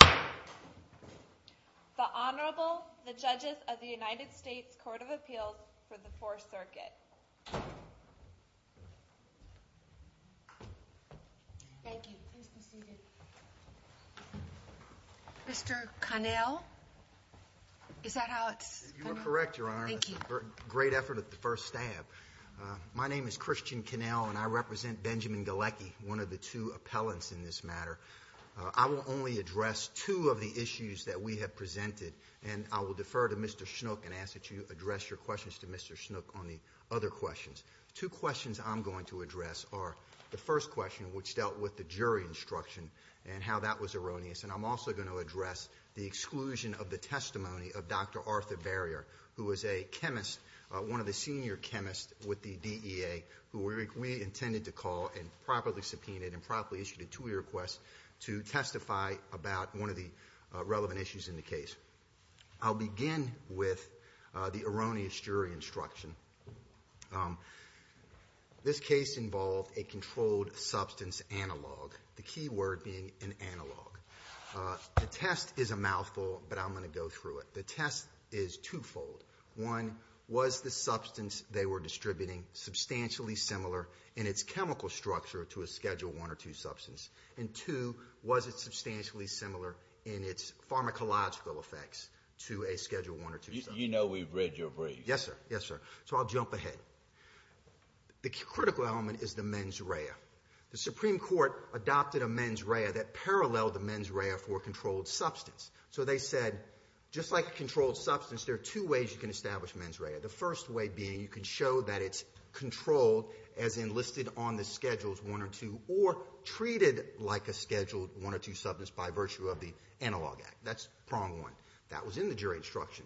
The Honorable, the Judges of the United States Court of Appeals for the 4th Circuit. Thank you. Please be seated. Mr. Connell? Is that how it's spelled? You are correct, Your Honor. Thank you. Great effort at the first stab. My name is Christian Connell, and I represent Benjamin Galecki, one of the two appellants in this matter. I will only address two of the issues that we have presented, and I will defer to Mr. Schnook and ask that you address your questions to Mr. Schnook on the other questions. Two questions I'm going to address are the first question, which dealt with the jury instruction and how that was erroneous, and I'm also going to address the exclusion of the testimony of Dr. Arthur Barrier, who is a chemist, one of the senior chemists with the DEA, who we intended to call and properly subpoenaed and properly issued a two-year request to testify about one of the relevant issues in the case. I'll begin with the erroneous jury instruction. This case involved a controlled substance analog, the key word being an analog. The test is a mouthful, but I'm going to go through it. The test is twofold. One, was the substance they were distributing substantially similar in its chemical structure to a Schedule I or II substance? And two, was it substantially similar in its pharmacological effects to a Schedule I or II substance? You know we've read your brief. Yes, sir. Yes, sir. So I'll jump ahead. The critical element is the mens rea. The Supreme Court adopted a mens rea that paralleled the mens rea for a controlled substance. So they said, just like a controlled substance, there are two ways you can establish mens rea. The first way being you can show that it's controlled, as in listed on the Schedules I or II, or treated like a Scheduled I or II substance by virtue of the Analog Act. That's prong one. That was in the jury instruction.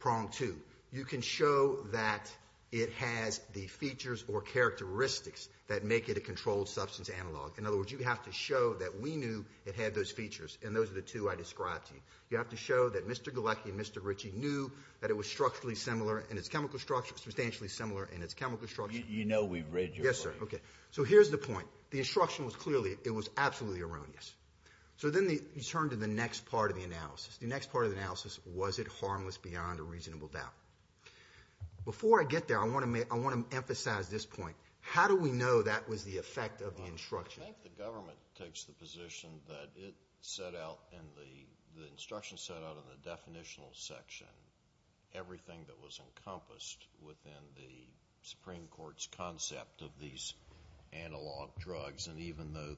Prong two, you can show that it has the features or characteristics that make it a controlled substance analog. In other words, you have to show that we knew it had those features. And those are the two I described to you. You have to show that Mr. Galecki and Mr. Ritchie knew that it was structurally similar in its chemical structure, substantially similar in its chemical structure. You know we've read your brief. Yes, sir. Okay. So here's the point. The instruction was clearly, it was absolutely erroneous. So then you turn to the next part of the analysis. The next part of the analysis, was it harmless beyond a reasonable doubt? Before I get there, I want to emphasize this point. How do we know that was the effect of the instruction? I think the government takes the position that it set out, and the instruction set out in the definitional section, everything that was encompassed within the Supreme Court's concept of these analog drugs. And even though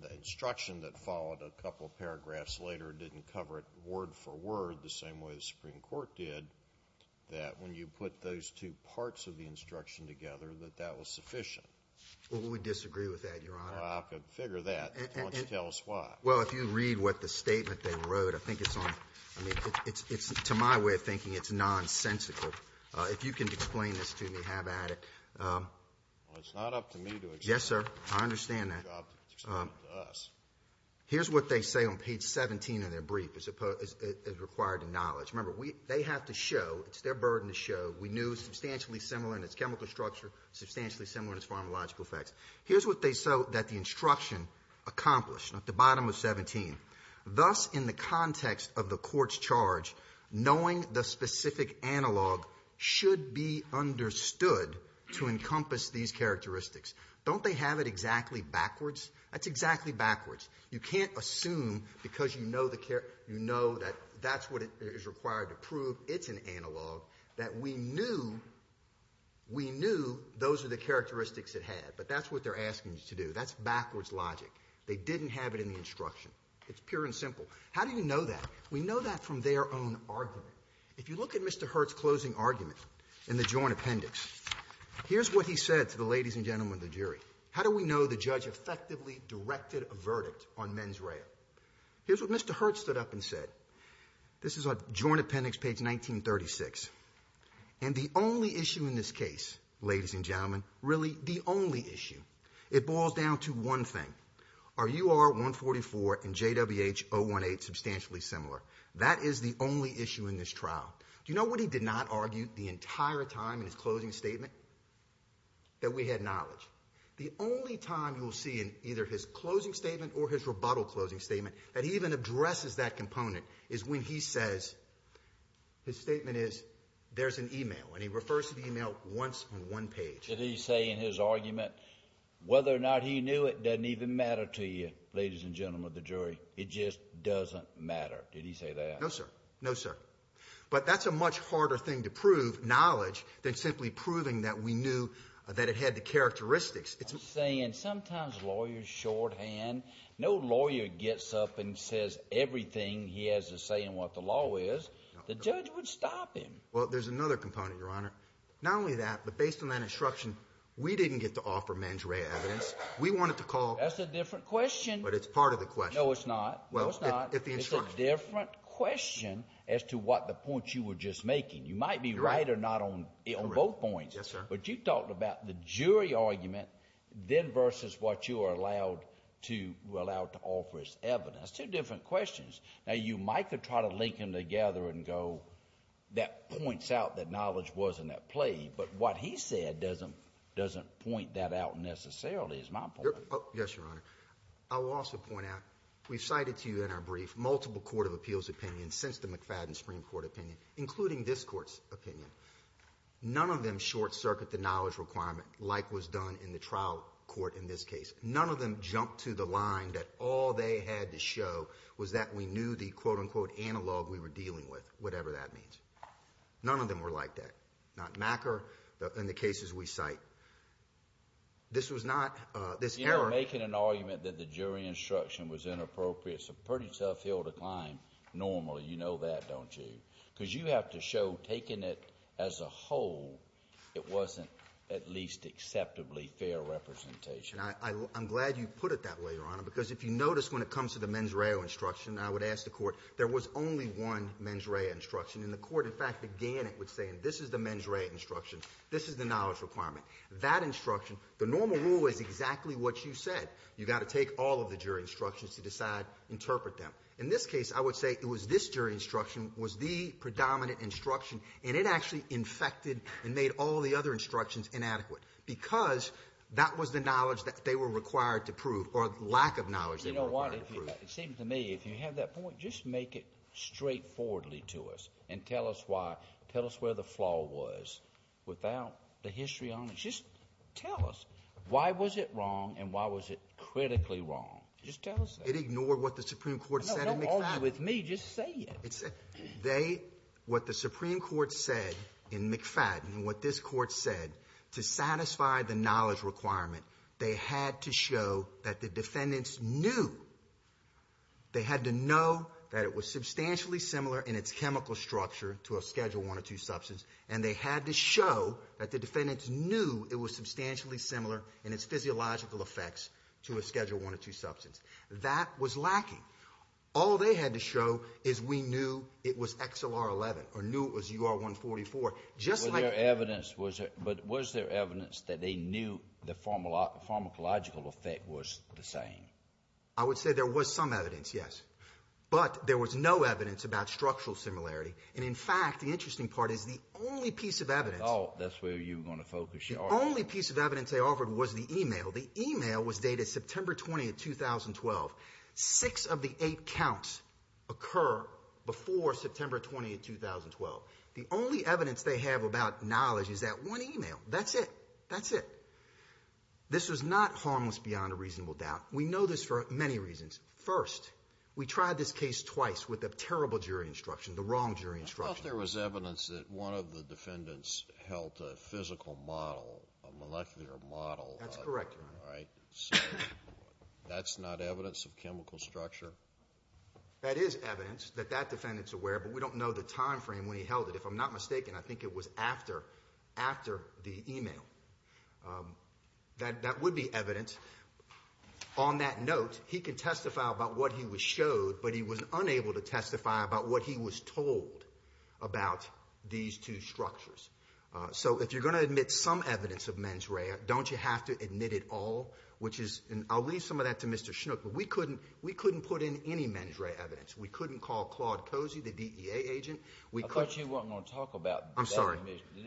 the instruction that followed a couple paragraphs later didn't cover it word for word the same way the Supreme Court did, that when you put those two parts of the instruction together, that that was sufficient. Well, we disagree with that, Your Honor. Well, I can figure that. Why don't you tell us why? Well, if you read what the statement they wrote, I think it's on, I mean, it's to my way of thinking it's nonsensical. If you can explain this to me, how about it? Well, it's not up to me to explain it. Yes, sir. I understand that. It's up to us. Here's what they say on page 17 of their brief as required in knowledge. Remember, they have to show, it's their burden to show, we knew substantially similar in its chemical structure, substantially similar in its pharmacological effects. Here's what they show that the instruction accomplished, at the bottom of 17. Thus, in the context of the court's charge, knowing the specific analog should be understood to encompass these characteristics. Don't they have it exactly backwards? That's exactly backwards. You can't assume because you know that that's what is required to prove it's an analog that we knew those are the characteristics it had. But that's what they're asking you to do. That's backwards logic. They didn't have it in the instruction. It's pure and simple. How do you know that? We know that from their own argument. If you look at Mr. Hurt's closing argument in the joint appendix, here's what he said to the ladies and gentlemen of the jury. How do we know the judge effectively directed a verdict on mens rea? Here's what Mr. Hurt stood up and said. This is a joint appendix, page 1936. And the only issue in this case, ladies and gentlemen, really the only issue, it boils down to one thing. Are UR-144 and JWH-018 substantially similar? That is the only issue in this trial. Do you know what he did not argue the entire time in his closing statement? That we had knowledge. The only time you'll see in either his closing statement or his rebuttal closing statement that he even addresses that component is when he says, his statement is, there's an e-mail. And he refers to the e-mail once on one page. Did he say in his argument whether or not he knew it doesn't even matter to you, ladies and gentlemen of the jury? It just doesn't matter. Did he say that? No, sir. No, sir. But that's a much harder thing to prove, knowledge, than simply proving that we knew that it had the characteristics. I'm saying sometimes lawyers shorthand, no lawyer gets up and says everything he has to say in what the law is. The judge would stop him. Well, there's another component, Your Honor. Not only that, but based on that instruction, we didn't get to offer mens rea evidence. We wanted to call. That's a different question. But it's part of the question. No, it's not. No, it's not. It's a different question as to what the point you were just making. You might be right or not on both points. Yes, sir. But you talked about the jury argument then versus what you are allowed to offer as evidence. Two different questions. Now, you might could try to link them together and go that points out that knowledge wasn't at play. But what he said doesn't point that out necessarily is my point. Yes, Your Honor. I will also point out we've cited to you in our brief multiple court of appeals opinions since the McFadden Supreme Court opinion, including this court's opinion. None of them short-circuit the knowledge requirement like was done in the trial court in this case. None of them jump to the line that all they had to show was that we knew the, quote, unquote, analog we were dealing with, whatever that means. None of them were like that. Not Macker. In the cases we cite, this was not this error. You're making an argument that the jury instruction was inappropriate. It's a pretty tough hill to climb normally. You know that, don't you? Because you have to show taking it as a whole, it wasn't at least acceptably fair representation. I'm glad you put it that way, Your Honor, because if you notice when it comes to the mens rea instruction, I would ask the court there was only one mens rea instruction. And the court, in fact, began it with saying this is the mens rea instruction. This is the knowledge requirement. That instruction, the normal rule is exactly what you said. You've got to take all of the jury instructions to decide, interpret them. In this case, I would say it was this jury instruction was the predominant instruction, and it actually infected and made all the other instructions inadequate because that was the knowledge that they were required to prove or lack of knowledge they were required to prove. You know what? It seems to me if you have that point, just make it straightforwardly to us and tell us why. Without the history on it. Just tell us why was it wrong and why was it critically wrong. Just tell us that. It ignored what the Supreme Court said in McFadden. No, don't argue with me. Just say it. What the Supreme Court said in McFadden and what this court said to satisfy the knowledge requirement, they had to show that the defendants knew. They had to know that it was substantially similar in its chemical structure to a Schedule I or II substance, and they had to show that the defendants knew it was substantially similar in its physiological effects to a Schedule I or II substance. That was lacking. All they had to show is we knew it was XLR11 or knew it was UR144. But was there evidence that they knew the pharmacological effect was the same? I would say there was some evidence, yes. But there was no evidence about structural similarity. And, in fact, the interesting part is the only piece of evidence. That's where you want to focus your argument. The only piece of evidence they offered was the e-mail. The e-mail was dated September 20, 2012. Six of the eight counts occur before September 20, 2012. The only evidence they have about knowledge is that one e-mail. That's it. That's it. This was not harmless beyond a reasonable doubt. We know this for many reasons. First, we tried this case twice with a terrible jury instruction, the wrong jury instruction. I thought there was evidence that one of the defendants held a physical model, a molecular model. That's correct, Your Honor. All right? So that's not evidence of chemical structure? That is evidence that that defendant's aware, but we don't know the time frame when he held it. If I'm not mistaken, I think it was after the e-mail. That would be evident. On that note, he can testify about what he was showed, but he was unable to testify about what he was told about these two structures. So if you're going to admit some evidence of mens rea, don't you have to admit it all? I'll leave some of that to Mr. Schnook. We couldn't put in any mens rea evidence. We couldn't call Claude Cozy, the DEA agent. I thought you weren't going to talk about that. I'm sorry.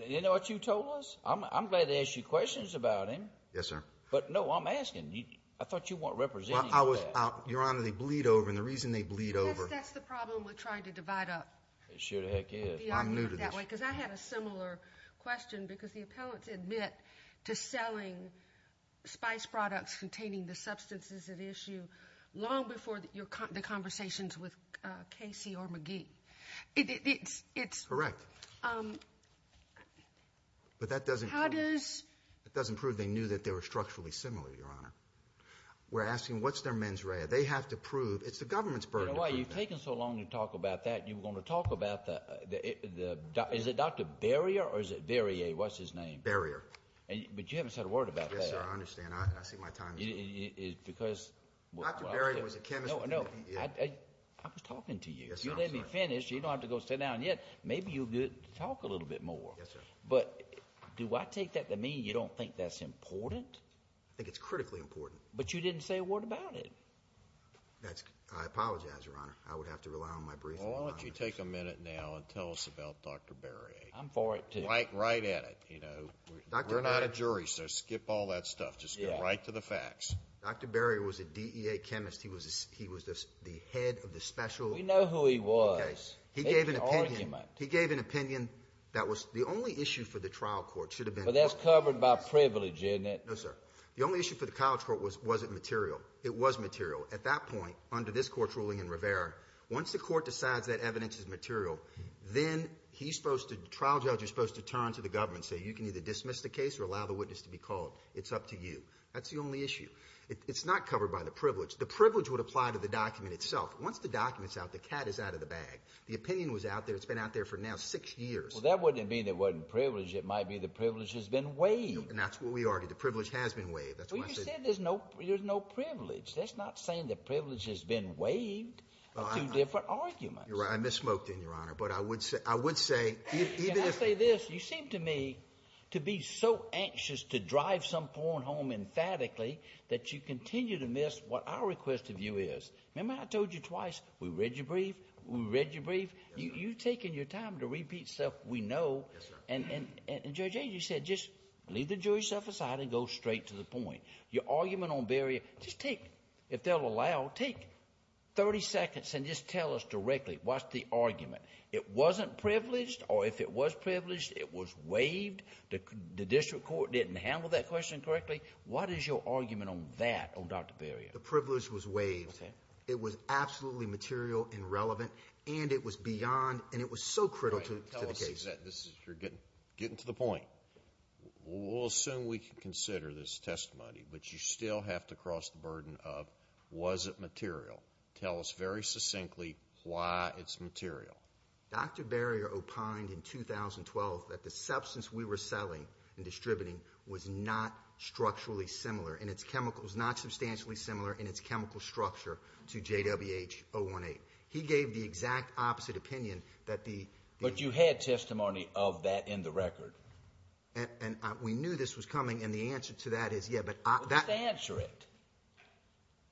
You know what you told us? I'm glad to ask you questions about him. Yes, sir. But, no, I'm asking. I thought you weren't representing that. Your Honor, they bleed over, and the reason they bleed over— That's the problem with trying to divide up the argument that way. It sure the heck is. I'm new to this. Because I had a similar question because the appellants admit to selling spice products containing the substances at issue long before the conversations with Casey or McGee. It's— Correct. But that doesn't— How does— It doesn't prove they knew that they were structurally similar, Your Honor. We're asking, what's their mens rea? They have to prove. It's the government's burden to prove that. You know why you've taken so long to talk about that? You were going to talk about the— Is it Dr. Berrier or is it Berrier? What's his name? Berrier. But you haven't said a word about that. Yes, sir. I understand. I see my time is up. Because— Dr. Berrier was a chemist. No, no. I was talking to you. You let me finish. You don't have to go sit down yet. Maybe you'll talk a little bit more. Yes, sir. But do I take that to mean you don't think that's important? I think it's critically important. But you didn't say a word about it. That's—I apologize, Your Honor. I would have to rely on my brief. Why don't you take a minute now and tell us about Dr. Berrier? I'm for it, too. Right at it. You know, we're not a jury, so skip all that stuff. Just get right to the facts. Dr. Berrier was a DEA chemist. We know who he was. Okay. He gave an opinion. It's an argument. He gave an opinion that was—the only issue for the trial court should have been— But that's covered by privilege, isn't it? No, sir. The only issue for the college court was was it material. It was material. At that point, under this Court's ruling in Rivera, once the court decides that evidence is material, then he's supposed to—the trial judge is supposed to turn to the government and say, you can either dismiss the case or allow the witness to be called. It's up to you. That's the only issue. It's not covered by the privilege. The privilege would apply to the document itself. Once the document's out, the cat is out of the bag. The opinion was out there. It's been out there for now six years. Well, that wouldn't mean it wasn't privileged. It might be the privilege has been waived. And that's what we argued. The privilege has been waived. That's why I said— Well, you said there's no privilege. That's not saying the privilege has been waived of two different arguments. You're right. I misspoke then, Your Honor. But I would say— Can I say this? You seem to me to be so anxious to drive some poor home emphatically that you continue to miss what our request of you is. Remember how I told you twice? We read your brief. We read your brief. You've taken your time to repeat stuff we know. Yes, sir. And, Judge Ager, you said just leave the Jewish stuff aside and go straight to the point. Your argument on Barrier, just take—if they'll allow, take 30 seconds and just tell us directly what's the argument. It wasn't privileged, or if it was privileged, it was waived. The district court didn't handle that question correctly. What is your argument on that on Dr. Barrier? The privilege was waived. Okay. It was absolutely material and relevant, and it was beyond—and it was so critical to the case. Tell us—you're getting to the point. We'll assume we can consider this testimony, but you still have to cross the burden of was it material. Tell us very succinctly why it's material. Dr. Barrier opined in 2012 that the substance we were selling and distributing was not structurally similar and its chemicals not substantially similar in its chemical structure to JWH-018. He gave the exact opposite opinion that the— But you had testimony of that in the record. And we knew this was coming, and the answer to that is yeah, but— Just answer it.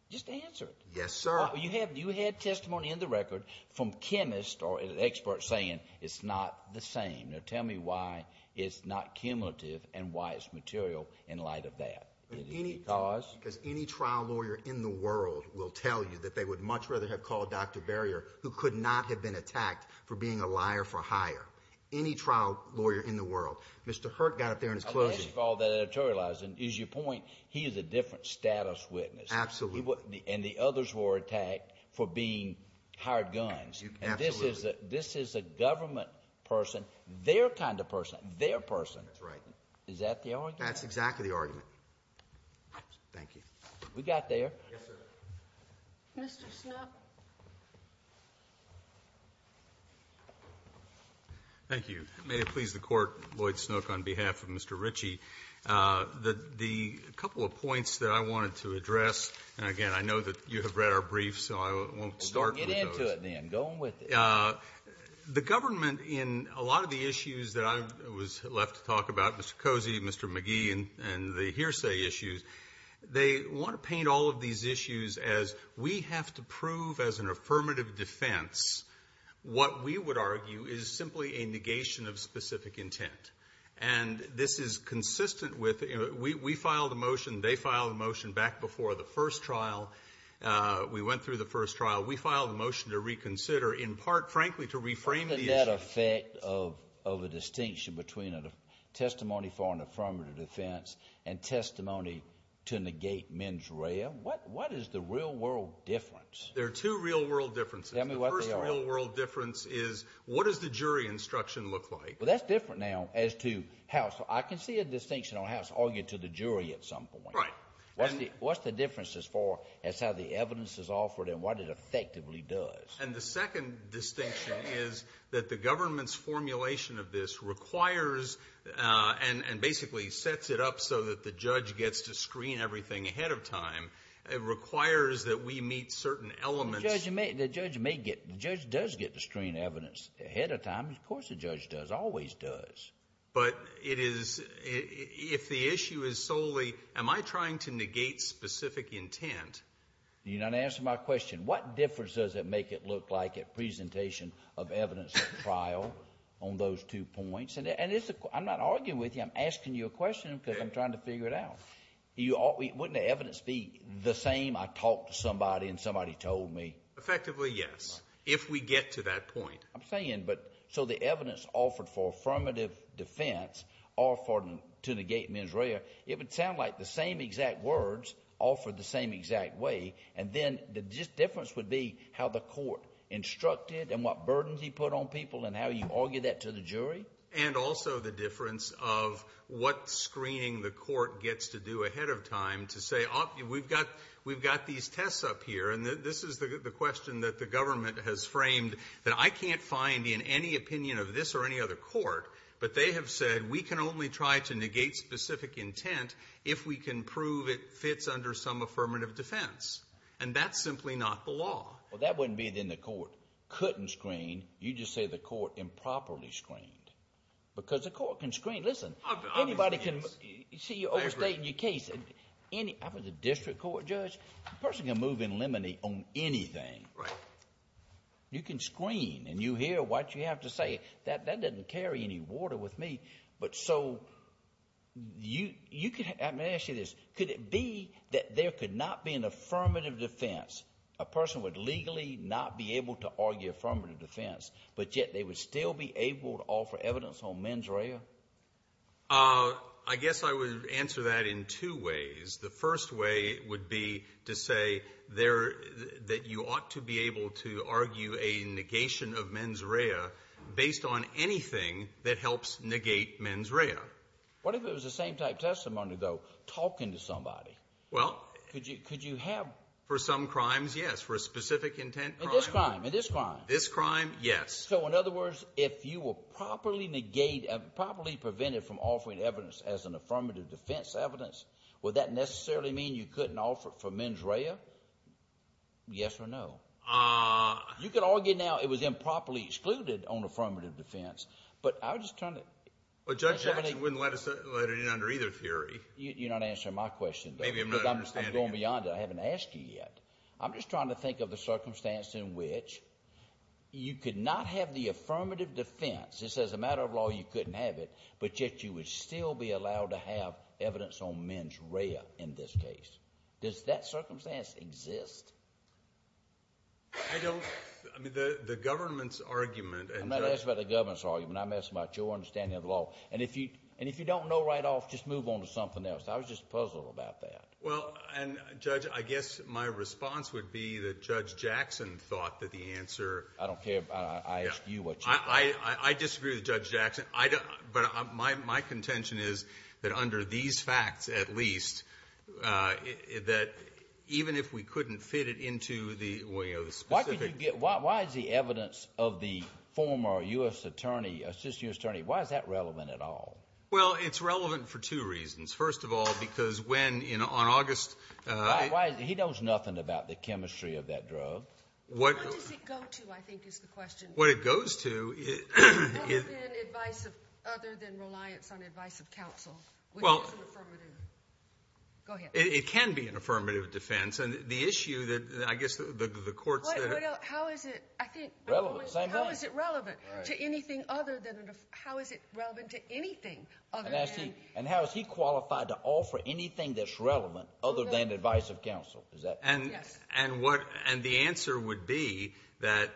Just answer it. Yes, sir. You had testimony in the record from chemists or experts saying it's not the same. Now tell me why it's not cumulative and why it's material in light of that. Because— Because any trial lawyer in the world will tell you that they would much rather have called Dr. Barrier who could not have been attacked for being a liar for hire. Any trial lawyer in the world. Mr. Hurt got up there in his closing— Unless you follow that editorializing, is your point he is a different status witness. Absolutely. And the others were attacked for being hired guns. Absolutely. And this is a government person, their kind of person, their person. That's right. Is that the argument? That's exactly the argument. Thank you. We got there. Yes, sir. Mr. Snook. Thank you. May it please the Court, Lloyd Snook, on behalf of Mr. Ritchie, the couple of points that I wanted to address, and again, I know that you have read our briefs, so I won't start with those. Get into it, then. Go on with it. The government in a lot of the issues that I was left to talk about, Mr. Cozy, Mr. McGee, and the hearsay issues, they want to paint all of these issues as we have to prove as an affirmative defense what we would argue is simply a negation of specific intent. And this is consistent with—we filed a motion, they filed a motion back before the first trial. We went through the first trial. We filed a motion to reconsider, in part, frankly, to reframe the issue. Isn't that an effect of a distinction between a testimony for an affirmative defense and testimony to negate mens rea? What is the real-world difference? There are two real-world differences. Tell me what they are. The first real-world difference is what does the jury instruction look like? Well, that's different now as to how—so I can see a distinction on how it's argued to the jury at some point. Right. What's the difference as far as how the evidence is offered and what it effectively does? And the second distinction is that the government's formulation of this requires and basically sets it up so that the judge gets to screen everything ahead of time. It requires that we meet certain elements— The judge may get—the judge does get to screen evidence ahead of time. Of course the judge does, always does. But it is—if the issue is solely am I trying to negate specific intent— You're not answering my question. What difference does it make, it looked like, at presentation of evidence at trial on those two points? And it's—I'm not arguing with you. I'm asking you a question because I'm trying to figure it out. Wouldn't the evidence be the same, I talked to somebody and somebody told me? Effectively, yes, if we get to that point. So the evidence offered for affirmative defense or to negate mens rea, it would sound like the same exact words offered the same exact way, and then the difference would be how the court instructed and what burdens he put on people and how you argue that to the jury? And also the difference of what screening the court gets to do ahead of time to say we've got these tests up here, and this is the question that the government has framed that I can't find in any opinion of this or any other court, but they have said we can only try to negate specific intent if we can prove it fits under some affirmative defense. And that's simply not the law. Well, that wouldn't mean then the court couldn't screen, you just say the court improperly screened. Because the court can screen—listen, anybody can— See, you're overstating your case. I was a district court judge. A person can move in limine on anything. Right. You can screen, and you hear what you have to say. That doesn't carry any water with me. But so you could—let me ask you this. Could it be that there could not be an affirmative defense, a person would legally not be able to argue affirmative defense, but yet they would still be able to offer evidence on mens rea? I guess I would answer that in two ways. The first way would be to say that you ought to be able to argue a negation of mens rea based on anything that helps negate mens rea. What if it was the same type testimony, though, talking to somebody? Well— Could you have— For some crimes, yes. For a specific intent crime— In this crime, in this crime. This crime, yes. So in other words, if you were properly negated, properly prevented from offering evidence as an affirmative defense evidence, would that necessarily mean you couldn't offer it for mens rea? Yes or no? You could argue now it was improperly excluded on affirmative defense, but I was just trying to— Well, Judge Jackson wouldn't let it in under either theory. You're not answering my question, though. Maybe I'm not understanding it. I'm going beyond it. I haven't asked you yet. I'm just trying to think of the circumstance in which you could not have the affirmative defense, just as a matter of law you couldn't have it, but yet you would still be allowed to have evidence on mens rea in this case. Does that circumstance exist? I don't—I mean, the government's argument— I'm not asking about the government's argument. I'm asking about your understanding of the law. And if you don't know right off, just move on to something else. I was just puzzled about that. Well, and, Judge, I guess my response would be that Judge Jackson thought that the answer— I don't care. I asked you what you thought. I disagree with Judge Jackson, but my contention is that under these facts, at least, that even if we couldn't fit it into the way of the specific— Why is the evidence of the former U.S. attorney, assistant U.S. attorney, why is that relevant at all? Well, it's relevant for two reasons. First of all, because when on August— He knows nothing about the chemistry of that drug. What does it go to, I think, is the question. What it goes to— Other than reliance on advice of counsel, which is an affirmative. Go ahead. It can be an affirmative defense, and the issue that I guess the courts— How is it, I think— Relevant. Same thing. How is it relevant to anything other than— How is it relevant to anything other than— And how is he qualified to offer anything that's relevant other than advice of counsel? Is that— Yes. And the answer would be that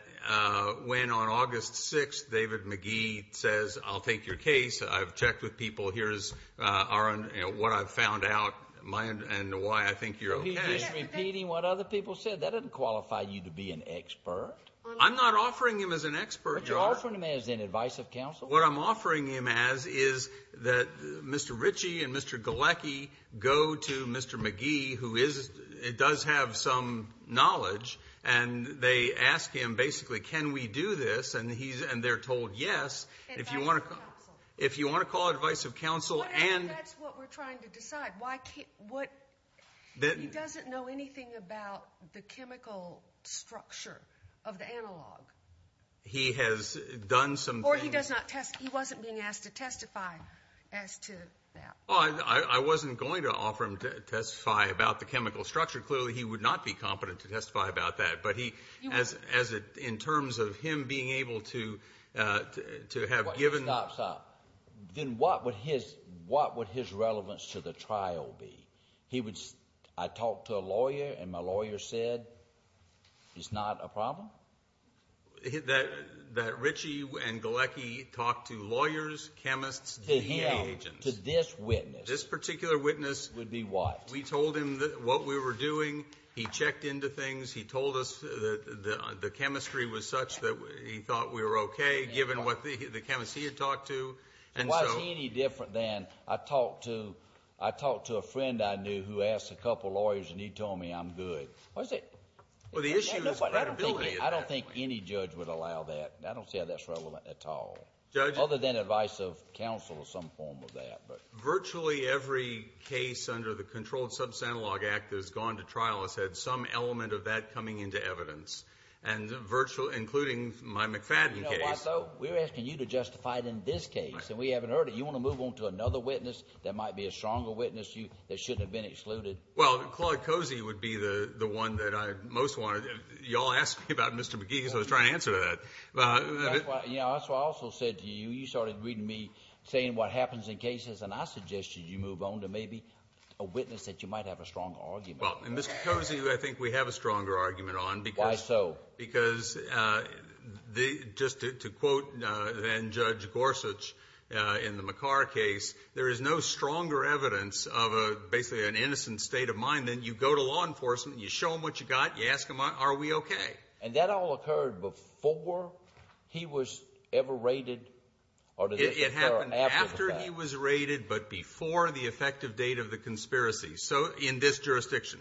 when on August 6th David Magee says, I'll take your case, I've checked with people, here's what I've found out, and why I think you're okay— Are you just repeating what other people said? That doesn't qualify you to be an expert. I'm not offering him as an expert. But you're offering him as an advice of counsel? What I'm offering him as is that Mr. Ritchie and Mr. Galecki go to Mr. Magee, who does have some knowledge, and they ask him basically, can we do this? And they're told yes. Advice of counsel. If you want to call it advice of counsel and— That's what we're trying to decide. He doesn't know anything about the chemical structure of the analog. He has done some things— Or he doesn't test—he wasn't being asked to testify as to that. I wasn't going to offer him to testify about the chemical structure. Clearly he would not be competent to testify about that. But he, as in terms of him being able to have given— Stop, stop. Then what would his relevance to the trial be? He would—I talked to a lawyer, and my lawyer said it's not a problem? That Ritchie and Galecki talked to lawyers, chemists, DA agents. To him, to this witness. This particular witness. Would be what? We told him what we were doing. He checked into things. He told us that the chemistry was such that he thought we were okay, given what the chemists he had talked to. And was he any different than I talked to a friend I knew who asked a couple lawyers, and he told me I'm good. What is it? Well, the issue is credibility. I don't think any judge would allow that. I don't see how that's relevant at all. Judge? Other than advice of counsel or some form of that. Virtually every case under the Controlled Substantial Law Act that has gone to trial has had some element of that coming into evidence. And virtually—including my McFadden case. You know what, though? We're asking you to justify it in this case, and we haven't heard it. You want to move on to another witness that might be a stronger witness that shouldn't have been excluded? Well, Claude Cozy would be the one that I most want to—you all asked me about Mr. McGee, so I was trying to answer that. That's why I also said to you, you started reading me, saying what happens in cases, and I suggested you move on to maybe a witness that you might have a stronger argument on. Well, Mr. Cozy, I think we have a stronger argument on. Why so? Because just to quote then Judge Gorsuch in the McCarr case, there is no stronger evidence of basically an innocent state of mind than you go to law enforcement, you show them what you've got, you ask them, are we okay? And that all occurred before he was ever raided? It happened after he was raided, but before the effective date of the conspiracy. So in this jurisdiction.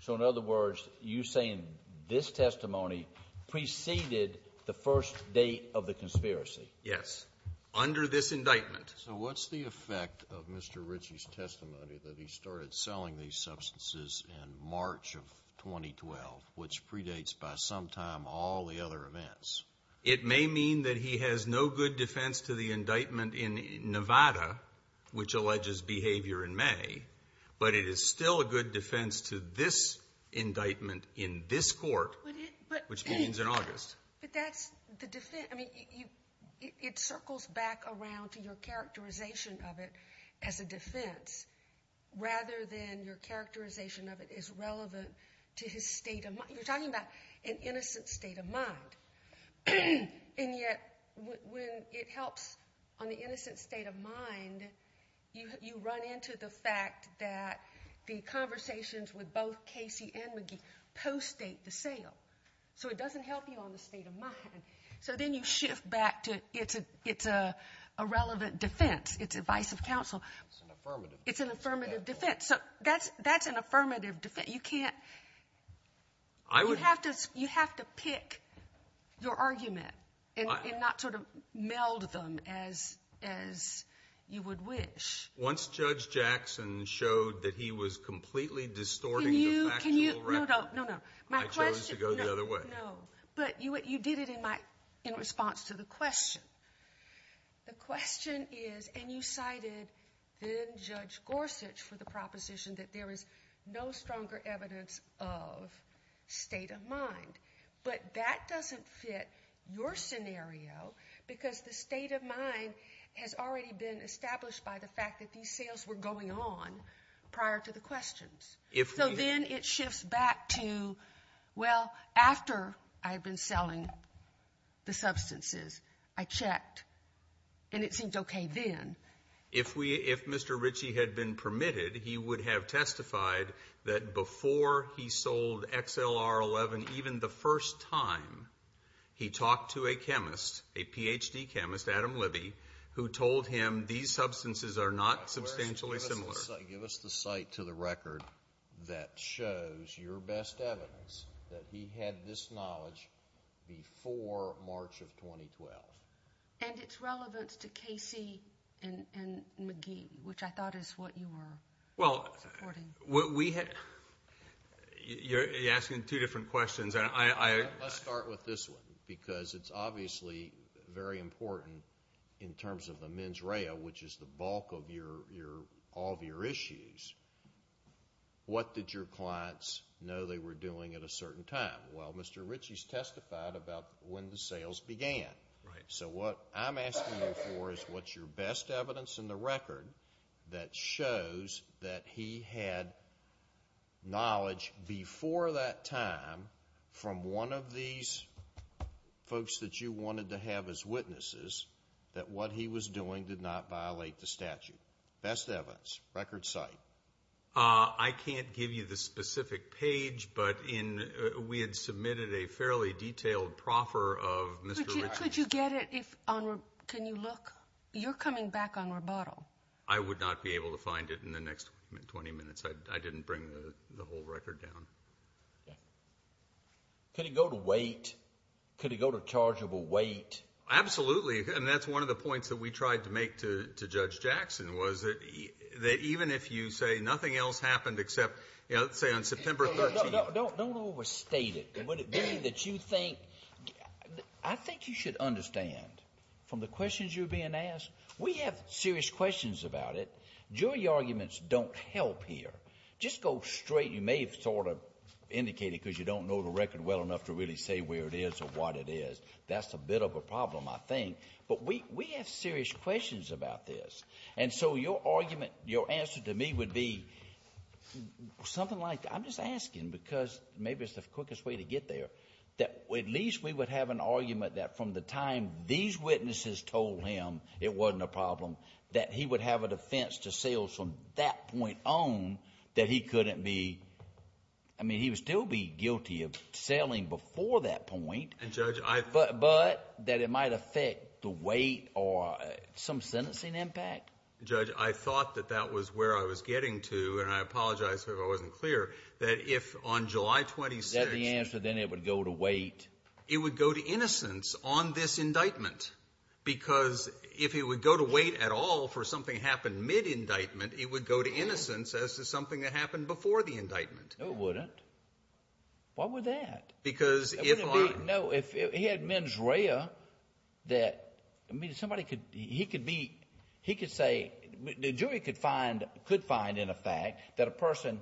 So in other words, you're saying this testimony preceded the first date of the conspiracy? Yes, under this indictment. So what's the effect of Mr. Ritchie's testimony that he started selling these substances in March of 2012, which predates by some time all the other events? It may mean that he has no good defense to the indictment in Nevada, which alleges behavior in May, but it is still a good defense to this indictment in this court, which begins in August. But that's the defense. I mean, it circles back around to your characterization of it as a defense, rather than your characterization of it as relevant to his state of mind. And yet when it helps on the innocent state of mind, you run into the fact that the conversations with both Casey and McGee post-date the sale. So it doesn't help you on the state of mind. So then you shift back to it's a relevant defense, it's advice of counsel. It's an affirmative defense. It's an affirmative defense. So that's an affirmative defense. You have to pick your argument and not sort of meld them as you would wish. Once Judge Jackson showed that he was completely distorting the factual record, I chose to go the other way. No, but you did it in response to the question. The question is, and you cited then Judge Gorsuch for the proposition that there is no stronger evidence of state of mind. But that doesn't fit your scenario because the state of mind has already been established by the fact that these sales were going on prior to the questions. So then it shifts back to, well, after I had been selling the substances, I checked, and it seemed okay then. If Mr. Ritchie had been permitted, he would have testified that before he sold XLR11, even the first time, he talked to a chemist, a Ph.D. chemist, Adam Libby, who told him these substances are not substantially similar. Give us the cite to the record that shows your best evidence that he had this knowledge before March of 2012. And it's relevant to Casey and McGee, which I thought is what you were supporting. Well, you're asking two different questions. Let's start with this one because it's obviously very important in terms of the mens rea, which is the bulk of all of your issues. What did your clients know they were doing at a certain time? Well, Mr. Ritchie's testified about when the sales began. So what I'm asking you for is what's your best evidence in the record that shows that he had knowledge before that time from one of these folks that you wanted to have as witnesses that what he was doing did not violate the statute? Best evidence. Record cite. I can't give you the specific page, but we had submitted a fairly detailed proffer of Mr. Ritchie's. Could you get it? Can you look? You're coming back on rebuttal. I would not be able to find it in the next 20 minutes. I didn't bring the whole record down. Could it go to weight? Could it go to chargeable weight? Absolutely. And that's one of the points that we tried to make to Judge Jackson was that even if you say nothing else happened except, say, on September 13th. Don't overstate it. What it being that you think, I think you should understand from the questions you're being asked, we have serious questions about it. Jury arguments don't help here. Just go straight. You may have sort of indicated because you don't know the record well enough to really say where it is or what it is. That's a bit of a problem, I think. But we have serious questions about this. And so your argument, your answer to me would be something like, I'm just asking because maybe it's the quickest way to get there, that at least we would have an argument that from the time these witnesses told him it wasn't a problem, that he would have a defense to sell from that point on that he couldn't be, I mean, he would still be guilty of selling before that point. And, Judge, I. But that it might affect the weight or some sentencing impact. Judge, I thought that that was where I was getting to, and I apologize if I wasn't clear, that if on July 26th. Is that the answer, then it would go to weight? It would go to innocence on this indictment because if it would go to weight at all for something to happen mid-indictment, it would go to innocence as to something that happened before the indictment. No, it wouldn't. Why would that? Because if I. No, if he had mens rea, that, I mean, somebody could, he could be, he could say, the jury could find, in effect, that a person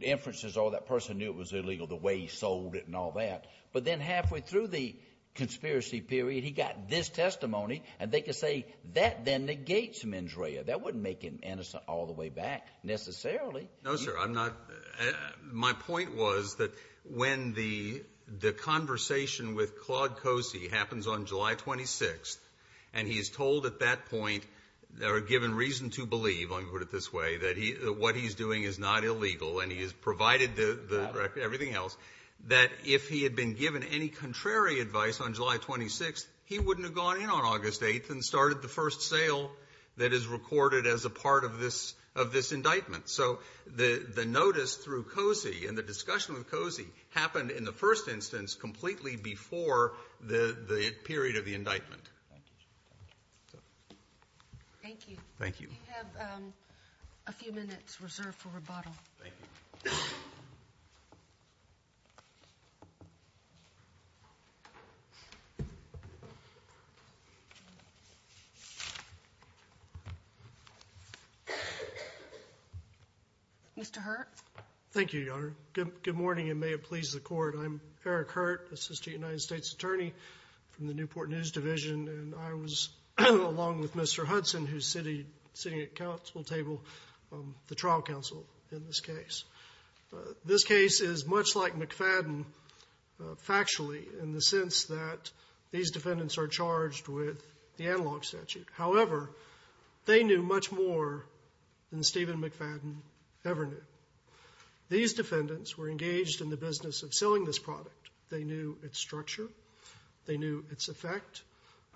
inferences or that person knew it was illegal the way he sold it and all that. But then halfway through the conspiracy period, he got this testimony and they could say that then negates mens rea. That wouldn't make him innocent all the way back necessarily. No, sir. I'm not. My point was that when the the conversation with Claude Cosi happens on July 26th and he is told at that point, or given reason to believe, let me put it this way, that what he's doing is not illegal and he has provided the record, everything else, that if he had been given any contrary advice on July 26th, he wouldn't have gone in on August 8th and started the first sale that is recorded as a part of this indictment. So the notice through Cosi and the discussion with Cosi happened in the first instance completely before the period of the indictment. Thank you, sir. Thank you. Thank you. You have a few minutes reserved for rebuttal. Thank you. Mr. Hurt. Thank you, Your Honor. Good morning and may it please the Court. I'm Eric Hurt, assistant United States attorney from the Newport News Division, and I was, along with Mr. Hudson, who's sitting at the council table, the trial counsel in this case. This case is much like McFadden factually in the sense that these defendants are charged with the analog statute. However, they knew much more than Stephen McFadden ever knew. These defendants were engaged in the business of selling this product. They knew its structure. They knew its effect.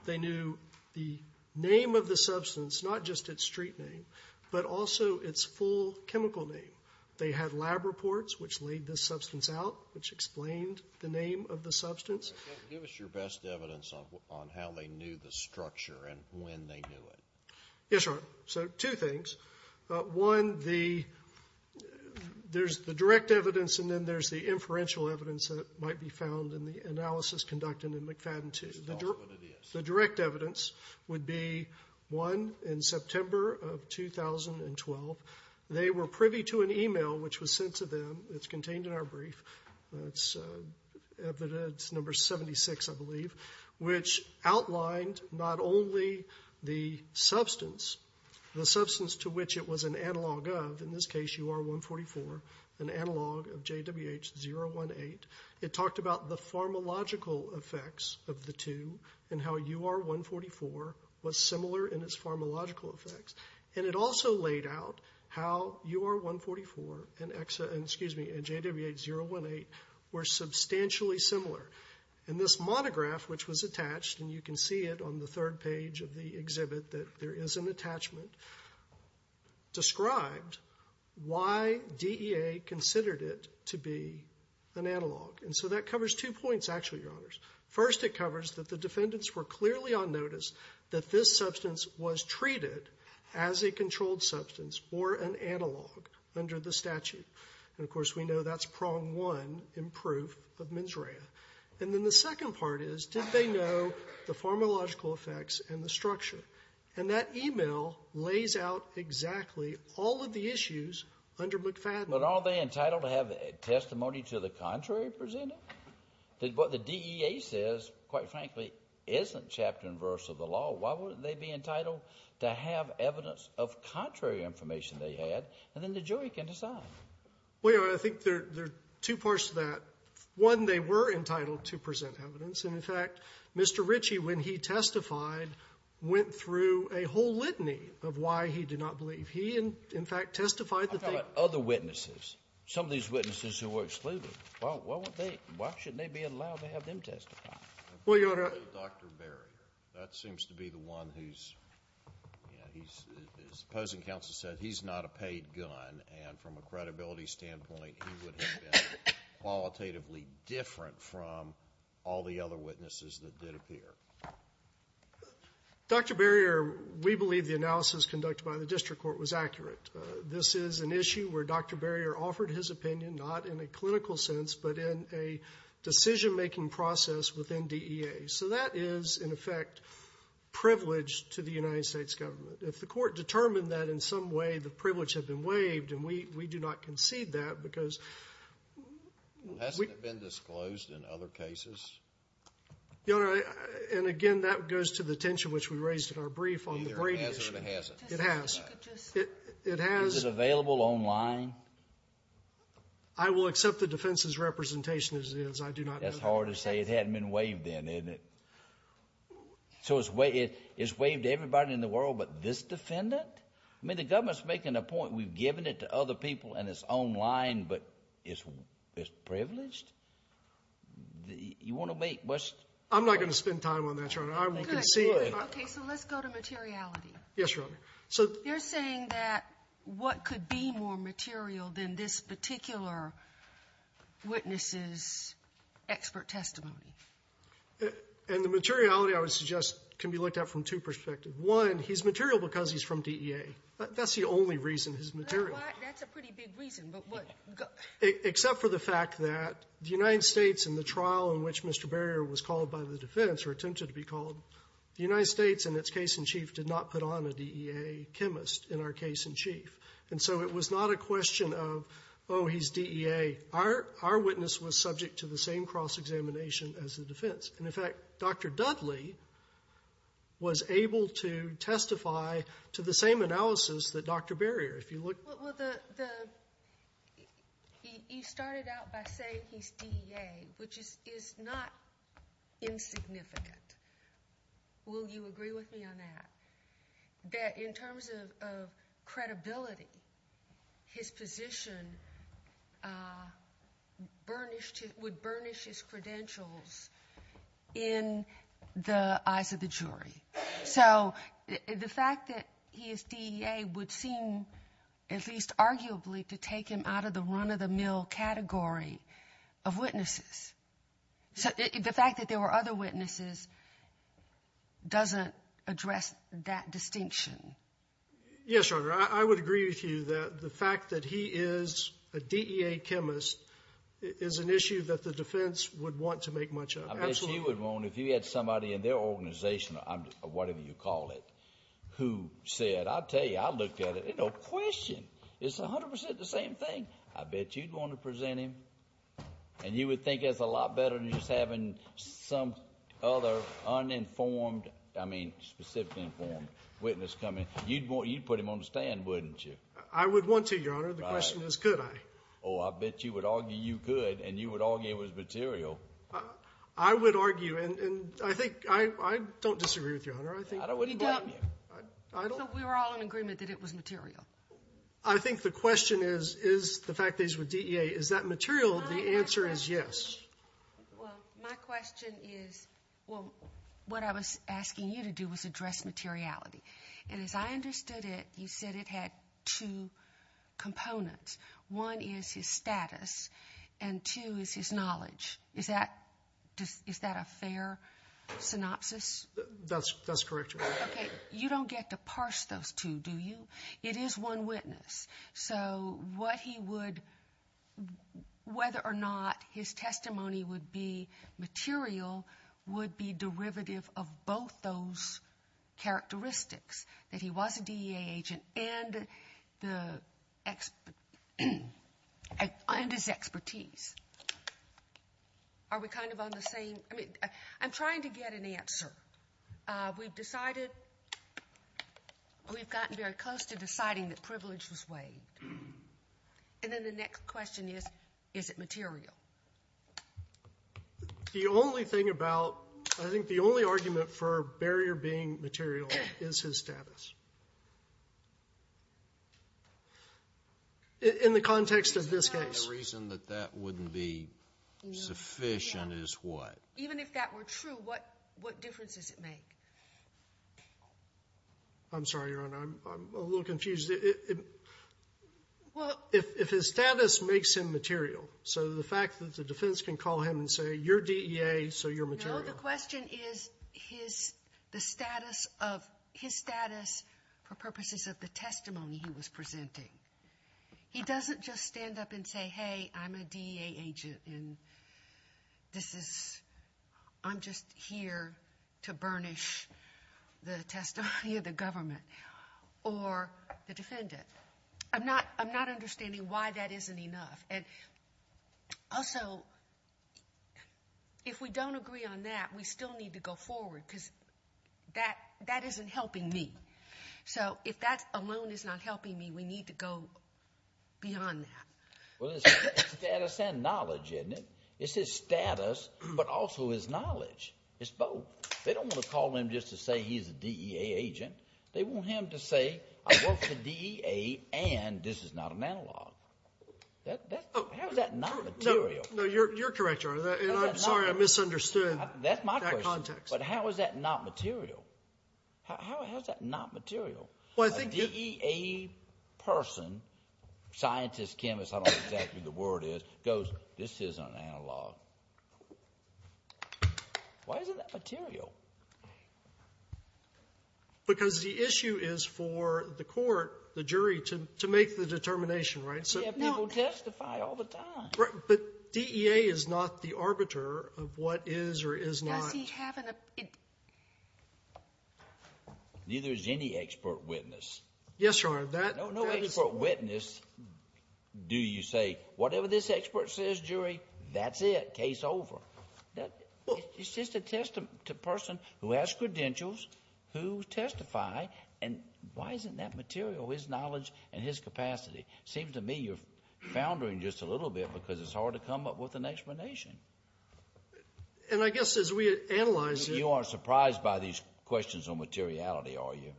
They knew the name of the substance, not just its street name, but also its full chemical name. They had lab reports which laid this substance out, which explained the name of the substance. Give us your best evidence on how they knew the structure and when they knew it. Yes, Your Honor. So two things. One, there's the direct evidence, and then there's the inferential evidence that might be found in the analysis conducted in McFadden 2. Just tell us what it is. The direct evidence would be, one, in September of 2012, they were privy to an email which was sent to them. It's contained in our brief. It's evidence number 76, I believe, which outlined not only the substance, the substance to which it was an analog of, in this case UR-144, an analog of JWH-018. It talked about the pharmacological effects of the two and how UR-144 was similar in its pharmacological effects. And it also laid out how UR-144 and JWH-018 were substantially similar. And this monograph, which was attached, and you can see it on the third page of the exhibit that there is an attachment, described why DEA considered it to be an analog. And so that covers two points, actually, Your Honors. First, it covers that the defendants were clearly on notice that this substance was treated as a controlled substance or an analog under the statute. And, of course, we know that's prong one in proof of mens rea. And then the second part is, did they know the pharmacological effects and the structure? And that email lays out exactly all of the issues under McFadden. But are they entitled to have testimony to the contrary presented? What the DEA says, quite frankly, isn't chapter and verse of the law. Why wouldn't they be entitled to have evidence of contrary information they had? And then the jury can decide. Well, Your Honor, I think there are two parts to that. One, they were entitled to present evidence. And, in fact, Mr. Ritchie, when he testified, went through a whole litany of why he did not believe. He, in fact, testified that they ---- I'm talking about other witnesses, some of these witnesses who were excluded. Why wouldn't they be? Why shouldn't they be allowed to have them testify? Well, Your Honor ---- Dr. Barrier. That seems to be the one who's, you know, he's, as opposing counsel said, he's not a paid gun, and from a credibility standpoint, he would have been qualitatively different from all the other witnesses that did appear. Dr. Barrier, we believe the analysis conducted by the district court was accurate. This is an issue where Dr. Barrier offered his opinion, not in a clinical sense, but in a decision-making process within DEA. So that is, in effect, privilege to the United States government. If the court determined that in some way the privilege had been waived, and we do not concede that because ---- Hasn't it been disclosed in other cases? Your Honor, and again, that goes to the tension which we raised in our brief on the Brady issue. It either has or it hasn't. It has. It has. Is it available online? I will accept the defense's representation as it is. I do not know ---- That's hard to say. It hadn't been waived then, hadn't it? So it's waived to everybody in the world, but this defendant? I mean, the government's making a point. We've given it to other people, and it's online, but it's privileged? You want to make what's ---- I'm not going to spend time on that, Your Honor. I will concede. Okay. So let's go to materiality. Yes, Your Honor. So ---- You're saying that what could be more material than this particular witness's expert testimony? And the materiality, I would suggest, can be looked at from two perspectives. One, he's material because he's from DEA. That's the only reason he's material. That's a pretty big reason. But what ---- Except for the fact that the United States in the trial in which Mr. Barrier was called by the defense, or attempted to be called, the United States in its case in chief did not put on a DEA chemist in our case in chief. And so it was not a question of, oh, he's DEA. Our witness was subject to the same cross-examination as the defense. And, in fact, Dr. Dudley was able to testify to the same analysis that Dr. Barrier. If you look ---- Well, the ---- He started out by saying he's DEA, which is not insignificant. Will you agree with me on that? That in terms of credibility, his position burnished his ---- would burnish his credentials in the eyes of the jury. So the fact that he is DEA would seem, at least arguably, to take him out of the run-of-the-mill category of witnesses. So the fact that there were other witnesses doesn't address that distinction. Yes, Your Honor. I would agree with you that the fact that he is a DEA chemist is an issue that the defense would want to make much of. Absolutely. What you would want, if you had somebody in their organization, whatever you call it, who said, I'll tell you, I looked at it, no question, it's 100% the same thing. I bet you'd want to present him. And you would think that's a lot better than just having some other uninformed, I mean specifically informed, witness come in. You'd put him on the stand, wouldn't you? I would want to, Your Honor. The question is, could I? Oh, I bet you would argue you could, and you would argue it was material. I would argue, and I think I don't disagree with you, Your Honor. I wouldn't doubt you. So we were all in agreement that it was material? I think the question is, is the fact that he's with DEA, is that material? The answer is yes. Well, my question is, well, what I was asking you to do was address materiality. And as I understood it, you said it had two components. One is his status, and two is his knowledge. Is that a fair synopsis? That's correct, Your Honor. Okay. You don't get to parse those two, do you? It is one witness. So what he would, whether or not his testimony would be material would be and his expertise. Are we kind of on the same? I mean, I'm trying to get an answer. We've decided, we've gotten very close to deciding that privilege was waived. And then the next question is, is it material? The only thing about, I think the only argument for barrier being material is his status. In the context of this case. The reason that that wouldn't be sufficient is what? Even if that were true, what difference does it make? I'm sorry, Your Honor. I'm a little confused. Well, if his status makes him material, so the fact that the defense can call him and say, you're DEA, so you're material. No, the question is his status for purposes of the testimony he was presenting. He doesn't just stand up and say, hey, I'm a DEA agent, and I'm just here to burnish the testimony of the government or the defendant. I'm not understanding why that isn't enough. Also, if we don't agree on that, we still need to go forward, because that isn't helping me. So if that alone is not helping me, we need to go beyond that. Well, it's status and knowledge, isn't it? It's his status, but also his knowledge. It's both. They don't want to call him just to say he's a DEA agent. They want him to say, I work for DEA, and this is not an analog. How is that not material? No, you're correct, Your Honor, and I'm sorry I misunderstood that context. That's my question. But how is that not material? How is that not material? A DEA person, scientist, chemist, I don't know exactly what the word is, goes, this is an analog. Why isn't that material? Because the issue is for the court, the jury, to make the determination, right? We have people testify all the time. But DEA is not the arbiter of what is or is not. Does he have an opinion? Neither is any expert witness. Yes, Your Honor. No expert witness do you say, whatever this expert says, jury, that's it, case over. It's just a person who has credentials, who testify, and why isn't that material, his knowledge and his capacity? It seems to me you're foundering just a little bit because it's hard to come up with an explanation. And I guess as we analyze it. You aren't surprised by these questions on materiality, are you?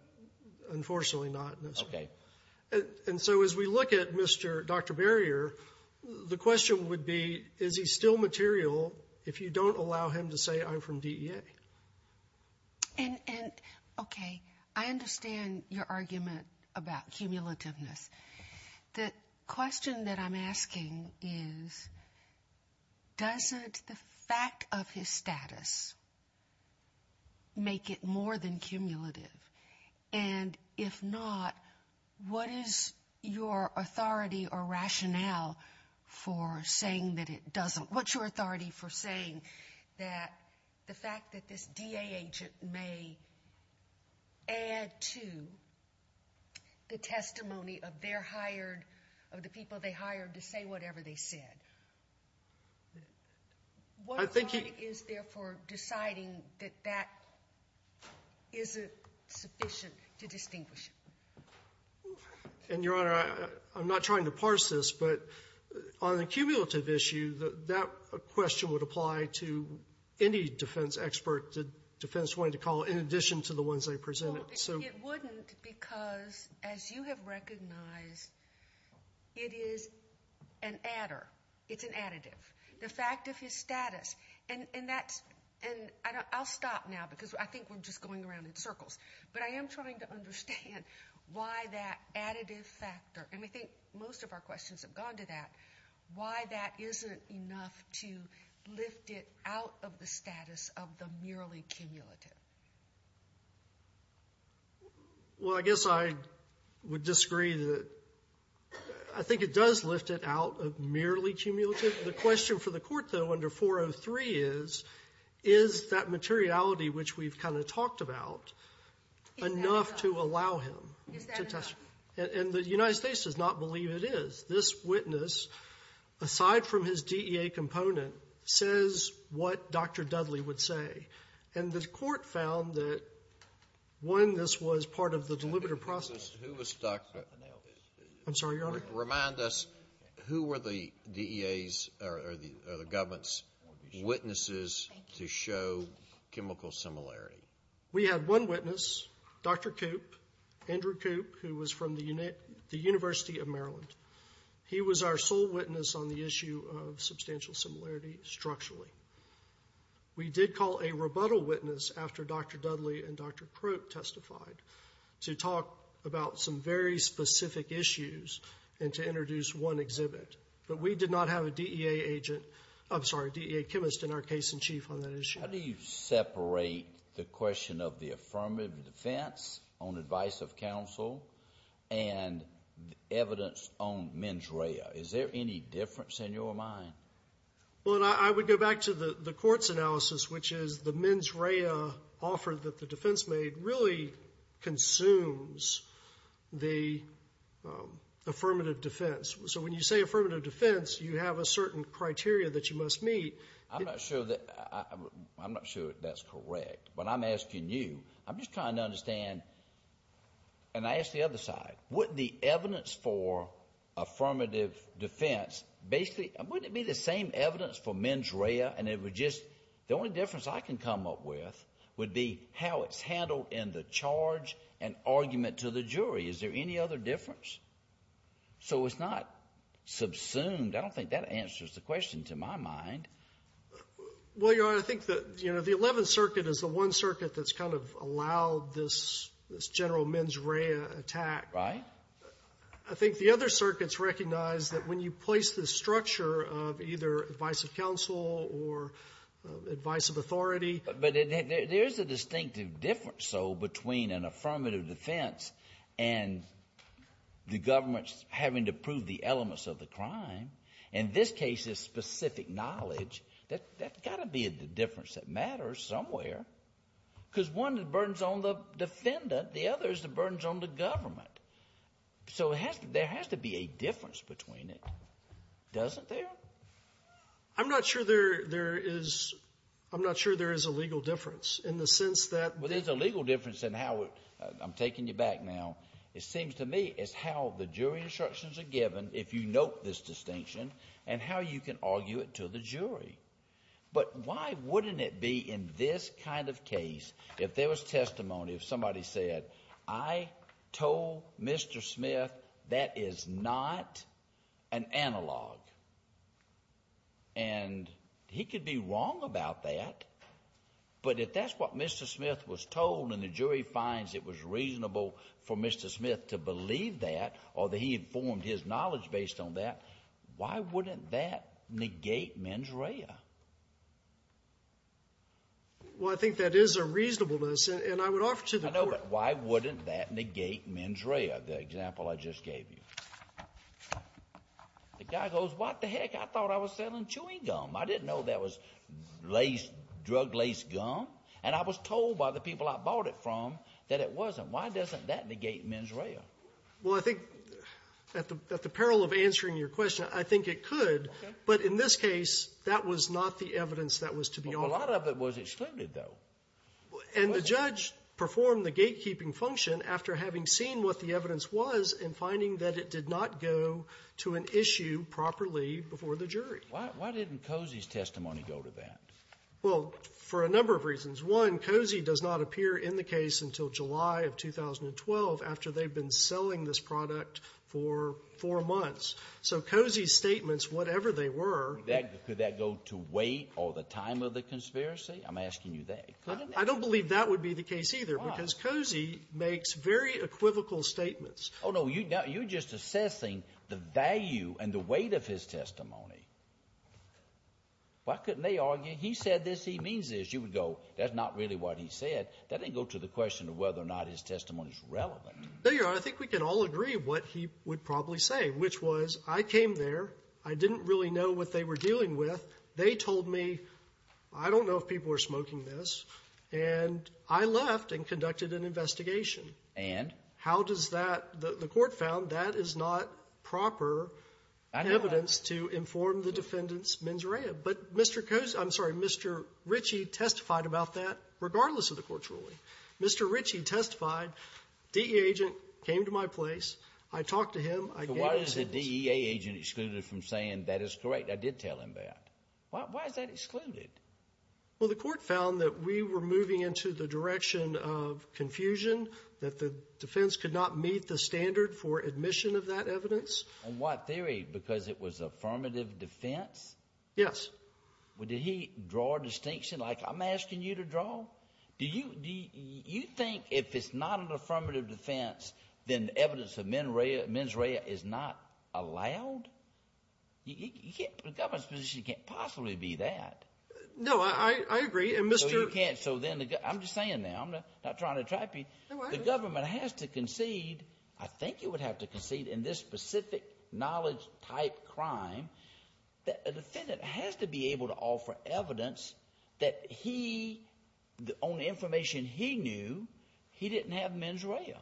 Unfortunately not, no, sir. Okay. And so as we look at Dr. Barrier, the question would be, is he still material if you don't allow him to say I'm from DEA? And, okay, I understand your argument about cumulativeness. The question that I'm asking is, doesn't the fact of his status make it more than cumulative? And if not, what is your authority or rationale for saying that it doesn't? What's your authority for saying that the fact that this DEA agent may add to the testimony of their hired, of the people they hired to say whatever they said? What authority is there for deciding that that isn't sufficient to distinguish? And, Your Honor, I'm not trying to parse this, but on the cumulative issue, that question would apply to any defense expert the defense wanted to call in addition to the ones I presented. It wouldn't because, as you have recognized, it is an adder. It's an additive. The fact of his status, and I'll stop now because I think we're just going around in circles, but I am trying to understand why that additive factor, and I think most of our questions have gone to that, why that isn't enough to lift it out of the status of the merely cumulative? Well, I guess I would disagree. I think it does lift it out of merely cumulative. The question for the Court, though, under 403 is, is that materiality which we've kind of talked about enough to allow him to testify? And the United States does not believe it is. This witness, aside from his DEA component, says what Dr. Dudley would say. And the Court found that, one, this was part of the deliberative process. I'm sorry, Your Honor? Remind us, who were the DEA's or the government's witnesses to show chemical similarity? We had one witness, Dr. Coop, Andrew Coop, who was from the University of Maryland. He was our sole witness on the issue of substantial similarity structurally. We did call a rebuttal witness after Dr. Dudley and Dr. Crook testified to talk about some very specific issues and to introduce one exhibit. But we did not have a DEA agent, I'm sorry, a DEA chemist in our case in chief on that issue. How do you separate the question of the affirmative defense on advice of counsel and evidence on mens rea? Is there any difference in your mind? Well, and I would go back to the Court's analysis, which is the mens rea offer that the defense made really consumes the affirmative defense. So when you say affirmative defense, you have a certain criteria that you must meet. I'm not sure that's correct, but I'm asking you. I'm just trying to understand, and I ask the other side, wouldn't the evidence for affirmative defense, basically, wouldn't it be the same evidence for mens rea and it would just—the only difference I can come up with would be how it's handled in the charge and argument to the jury. Is there any other difference? So it's not subsumed. I don't think that answers the question, to my mind. Well, Your Honor, I think that, you know, the Eleventh Circuit is the one circuit that's kind of allowed this general mens rea attack. Right. I think the other circuits recognize that when you place this structure of either advice of counsel or advice of authority— But there is a distinctive difference, though, between an affirmative defense and the government having to prove the elements of the crime. In this case, it's specific knowledge. That's got to be the difference that matters somewhere, because one of the burdens on the defendant, the other is the burdens on the government. So there has to be a difference between it, doesn't there? I'm not sure there is — I'm not sure there is a legal difference in the sense that— Well, there's a legal difference in how it — I'm taking you back now. It seems to me it's how the jury instructions are given, if you note this distinction, and how you can argue it to the jury. But why wouldn't it be in this kind of case, if there was testimony, if somebody said, I told Mr. Smith that is not an analog, and he could be wrong about that, but if that's what Mr. Smith was told and the jury finds it was reasonable for Mr. Smith to believe that, or that he informed his knowledge based on that, why wouldn't that negate mens rea? Well, I think that is a reasonableness. And I would offer to the Court— I know, but why wouldn't that negate mens rea, the example I just gave you? The guy goes, what the heck? I thought I was selling chewing gum. I didn't know that was drug-laced gum. And I was told by the people I bought it from that it wasn't. Why doesn't that negate mens rea? Well, I think, at the peril of answering your question, I think it could. But in this case, that was not the evidence that was to be offered. A lot of it was excluded, though. And the judge performed the gatekeeping function after having seen what the evidence was and finding that it did not go to an issue properly before the jury. Why didn't Cozy's testimony go to that? Well, for a number of reasons. One, Cozy does not appear in the case until July of 2012 after they've been selling this product for four months. So Cozy's statements, whatever they were— Could that go to wait or the time of the conspiracy? I'm asking you that. I don't believe that would be the case, either. Why? Because Cozy makes very equivocal statements. Oh, no. You're just assessing the value and the weight of his testimony. Why couldn't they argue, he said this, he means this? You would go, that's not really what he said. That didn't go to the question of whether or not his testimony is relevant. No, Your Honor. I think we can all agree what he would probably say, which was, I came there. I didn't really know what they were dealing with. They told me, I don't know if people are smoking this. And I left and conducted an investigation. And? How does that — the Court found that is not proper evidence to inform the defendant's mens rea. But Mr. Cozy — I'm sorry, Mr. Ritchie testified about that regardless of the Court's ruling. Mr. Ritchie testified, DEA agent came to my place. I talked to him. I gave him a sentence. So why is the DEA agent excluded from saying that is correct? I did tell him that. Why is that excluded? Well, the Court found that we were moving into the direction of confusion, that the defense could not meet the standard for admission of that evidence. In what theory? Because it was affirmative defense? Yes. Well, did he draw a distinction, like I'm asking you to draw? Do you think if it's not an affirmative defense, then evidence of mens rea is not allowed? You can't — the government's position can't possibly be that. No, I agree. And, Mr. — So you can't — so then the — I'm just saying now. I'm not trying to trap you. No, I agree. The government has to concede — I think it would have to concede in this specific knowledge-type crime that a defendant has to be able to offer evidence that he, on the information he knew, he didn't have mens rea.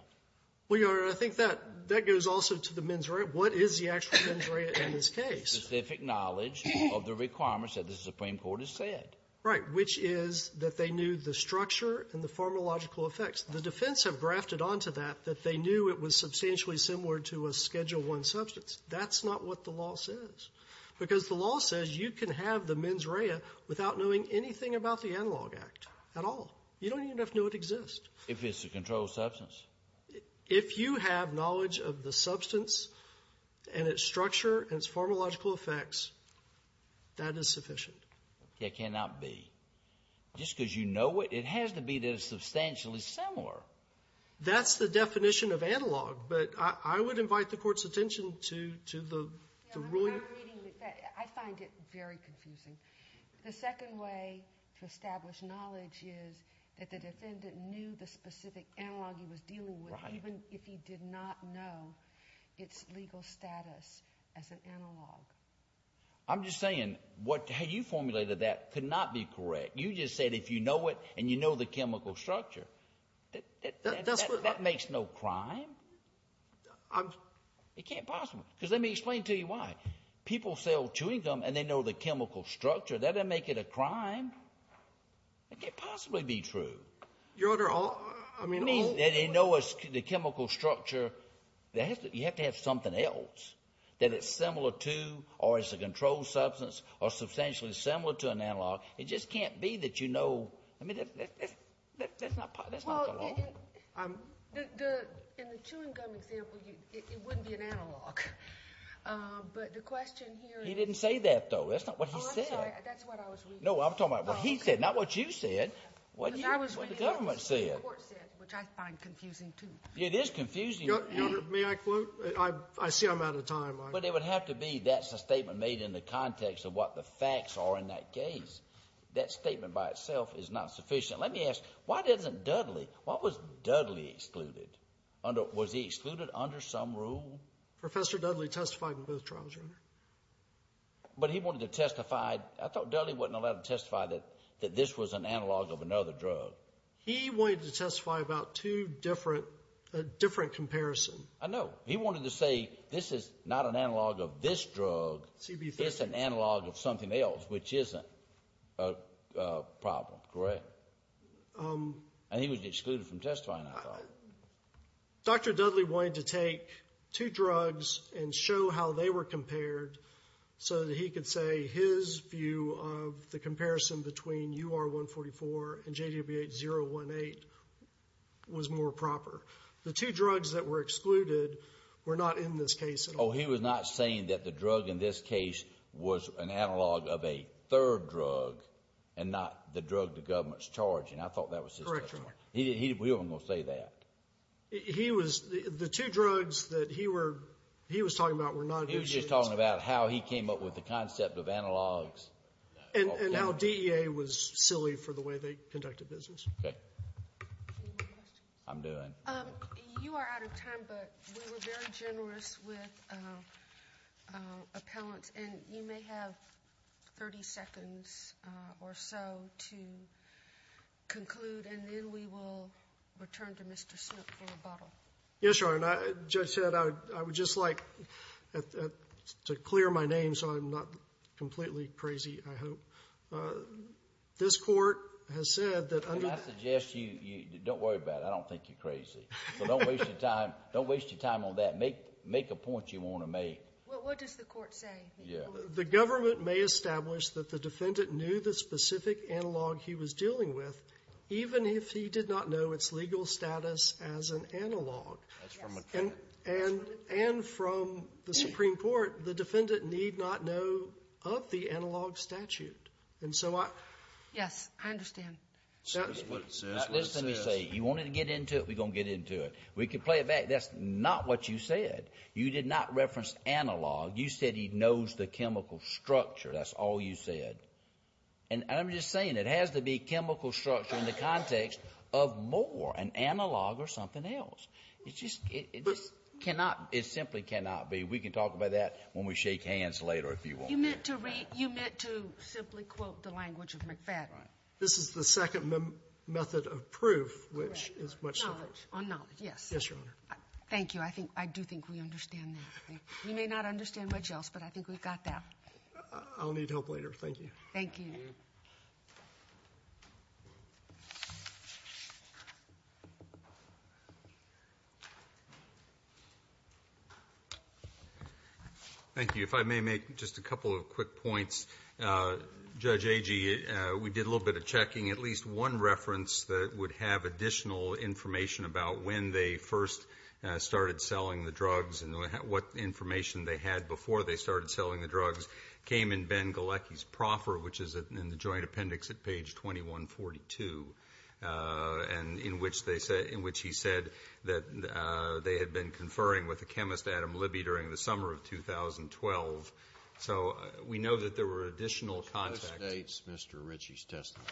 Well, Your Honor, I think that — that goes also to the mens rea. What is the actual mens rea in this case? Specific knowledge of the requirements that the Supreme Court has said. Right, which is that they knew the structure and the pharmacological effects. The defense have grafted onto that that they knew it was substantially similar to a Schedule I substance. That's not what the law says, because the law says you can have the mens rea without knowing anything about the Analog Act at all. You don't even have to know it exists. If it's a controlled substance. If you have knowledge of the substance and its structure and its pharmacological effects, that is sufficient. It cannot be. Just because you know it, it has to be that it's substantially similar. That's the definition of analog, but I would invite the Court's attention to the ruling. I find it very confusing. The second way to establish knowledge is that the defendant knew the specific analog he was dealing with, even if he did not know its legal status as an analog. I'm just saying how you formulated that could not be correct. You just said if you know it and you know the chemical structure, that makes no crime. It can't possibly, because let me explain to you why. People sell chewing gum and they know the chemical structure. That doesn't make it a crime. It can't possibly be true. Your Honor, I mean. It means that they know the chemical structure. You have to have something else that it's similar to or is a controlled substance or substantially similar to an analog. It just can't be that you know. I mean, that's not the law. Well, in the chewing gum example, it wouldn't be an analog. But the question here is. He didn't say that, though. That's not what he said. Oh, I'm sorry. That's what I was reading. No, I'm talking about what he said, not what you said. Because I was reading what the Supreme Court said, which I find confusing, too. It is confusing. Your Honor, may I quote? I see I'm out of time. But it would have to be that's a statement made in the context of what the facts are in that case. That statement by itself is not sufficient. Let me ask, why doesn't Dudley? Why was Dudley excluded? Was he excluded under some rule? Professor Dudley testified in both trials, Your Honor. But he wanted to testify. I thought Dudley wasn't allowed to testify that this was an analog of another drug. He wanted to testify about two different, a different comparison. I know. He wanted to say this is not an analog of this drug. This is an analog of something else, which isn't a problem, correct? And he was excluded from testifying, I thought. Dr. Dudley wanted to take two drugs and show how they were compared so that he could say his view of the comparison between UR-144 and JWH-018 was more proper. The two drugs that were excluded were not in this case at all. Oh, he was not saying that the drug in this case was an analog of a third drug and not the drug the government's charging. I thought that was his testimony. Correct, Your Honor. He wasn't going to say that. He was just talking about how he came up with the concept of analogs. And how DEA was silly for the way they conducted business. Okay. Any more questions? I'm doing. You are out of time, but we were very generous with appellants. And you may have 30 seconds or so to conclude, and then we will return to Mr. Smith for rebuttal. Yes, Your Honor. And as the judge said, I would just like to clear my name so I'm not completely crazy, I hope. This Court has said that under the… And I suggest you don't worry about it. I don't think you're crazy. So don't waste your time. Don't waste your time on that. Make a point you want to make. Well, what does the Court say? The government may establish that the defendant knew the specific analog he was dealing with, even if he did not know its legal status as an analog. Yes. And from the Supreme Court, the defendant need not know of the analog statute. And so I… Yes. I understand. That's what it says. That's what it says. Now, listen to me. You want to get into it, we're going to get into it. We can play it back. That's not what you said. You did not reference analog. You said he knows the chemical structure. That's all you said. And I'm just saying it has to be chemical structure in the context of more, an analog or something else. It just cannot, it simply cannot be. We can talk about that when we shake hands later, if you want. You meant to read, you meant to simply quote the language of McFadden. This is the second method of proof, which is much simpler. Knowledge, on knowledge, yes. Yes, Your Honor. Thank you. I think, I do think we understand that. We may not understand much else, but I think we've got that. I'll need help later. Thank you. Thank you. Thank you. Thank you. If I may make just a couple of quick points. Judge Agee, we did a little bit of checking. At least one reference that would have additional information about when they first started selling the drugs and what information they had before they started selling them. And that was in the joint appendix at page 2142. And in which they said, in which he said that they had been conferring with a chemist, Adam Libby, during the summer of 2012. So we know that there were additional contacts. Postdates Mr. Ritchie's testimony.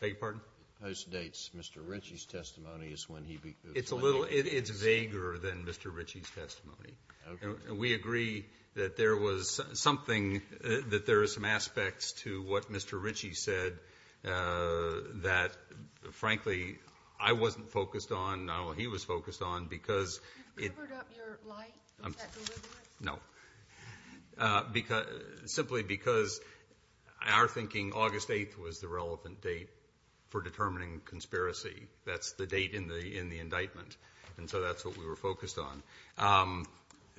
Beg your pardon? Postdates Mr. Ritchie's testimony is when he. It's a little, it's vaguer than Mr. Ritchie's testimony. Okay. We agree that there was something, that there are some aspects to what Mr. Ritchie said that, frankly, I wasn't focused on. Not only he was focused on, because. You've levered up your light. Is that deliberate? No. Simply because our thinking August 8th was the relevant date for determining conspiracy. That's the date in the indictment. And so that's what we were focused on.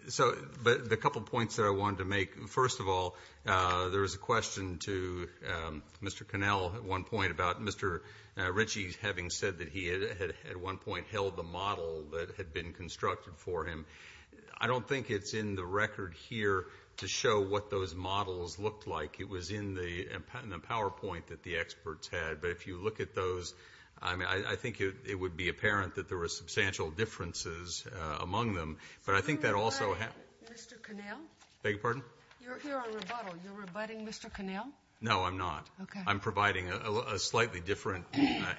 So the couple points that I wanted to make. First of all, there was a question to Mr. Connell at one point about Mr. Ritchie having said that he had at one point held the model that had been constructed for him. I don't think it's in the record here to show what those models looked like. It was in the PowerPoint that the experts had. But if you look at those, I think it would be apparent that there were But I think that also happened. Mr. Connell? Beg your pardon? You're here on rebuttal. You're rebutting Mr. Connell? No, I'm not. Okay. I'm providing a slightly different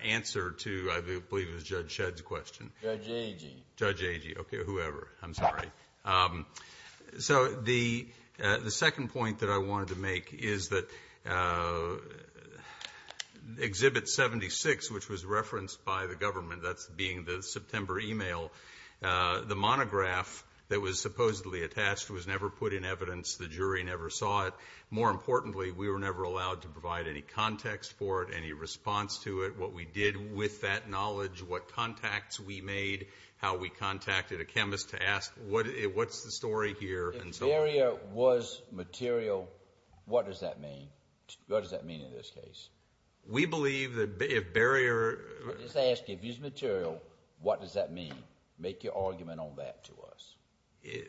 answer to I believe it was Judge Shedd's question. Judge Agee. Judge Agee. Okay. Whoever. I'm sorry. So the second point that I wanted to make is that Exhibit 76, which was referenced by the government, that's being the September email, the monograph that was supposedly attached was never put in evidence. The jury never saw it. More importantly, we were never allowed to provide any context for it, any response to it, what we did with that knowledge, what contacts we made, how we contacted a chemist to ask what's the story here. If barrier was material, what does that mean? What does that mean in this case? We believe that if barrier. I'm just asking, if it's material, what does that mean? Make your argument on that to us.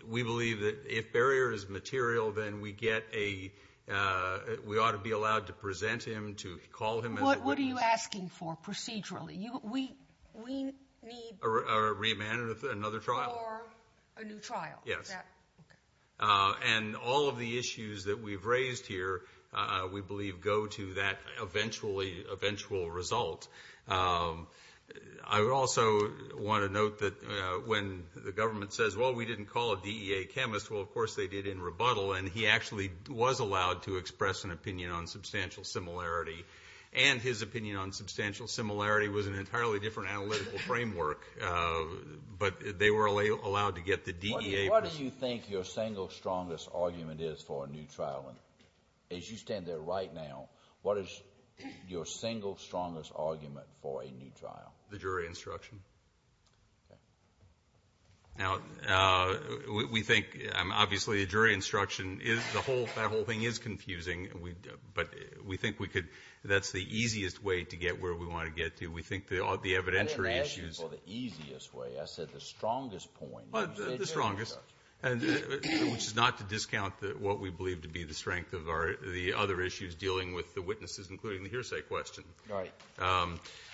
We believe that if barrier is material, then we get a, we ought to be allowed to present him, to call him as a witness. What are you asking for procedurally? We need. A remand or another trial. Or a new trial. Yes. Okay. And all of the issues that we've raised here, we believe, go to that eventual result. I also want to note that when the government says, well, we didn't call a DEA chemist, well, of course they did in rebuttal, and he actually was allowed to express an opinion on substantial similarity. And his opinion on substantial similarity was an entirely different analytical framework. But they were allowed to get the DEA. What do you think your single strongest argument is for a new trial? As you stand there right now, what is your single strongest argument for a new trial? The jury instruction. Okay. Now, we think, obviously, the jury instruction is, that whole thing is confusing. But we think we could, that's the easiest way to get where we want to get to. We think the evidentiary issues. I didn't ask you for the easiest way. I said the strongest point. The strongest. Which is not to discount what we believe to be the strength of the other issues dealing with the witnesses, including the hearsay question. Right.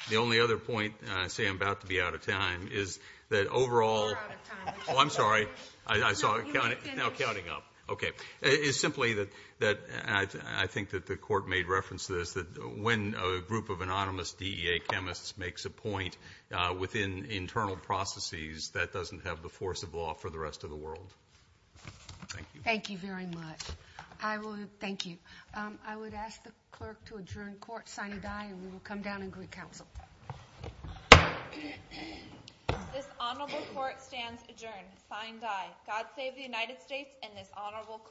The only other point, and I say I'm about to be out of time, is that overall. You're out of time. Oh, I'm sorry. I saw it now counting up. Okay. It's simply that I think that the Court made reference to this, that when a group of anonymous DEA chemists makes a point within internal processes, that doesn't have the force of law for the rest of the world. Thank you. Thank you very much. I will, thank you. I would ask the clerk to adjourn court, sign and die, and we will come down and greet counsel. This honorable court stands adjourned, sign and die. God save the United States and this honorable court.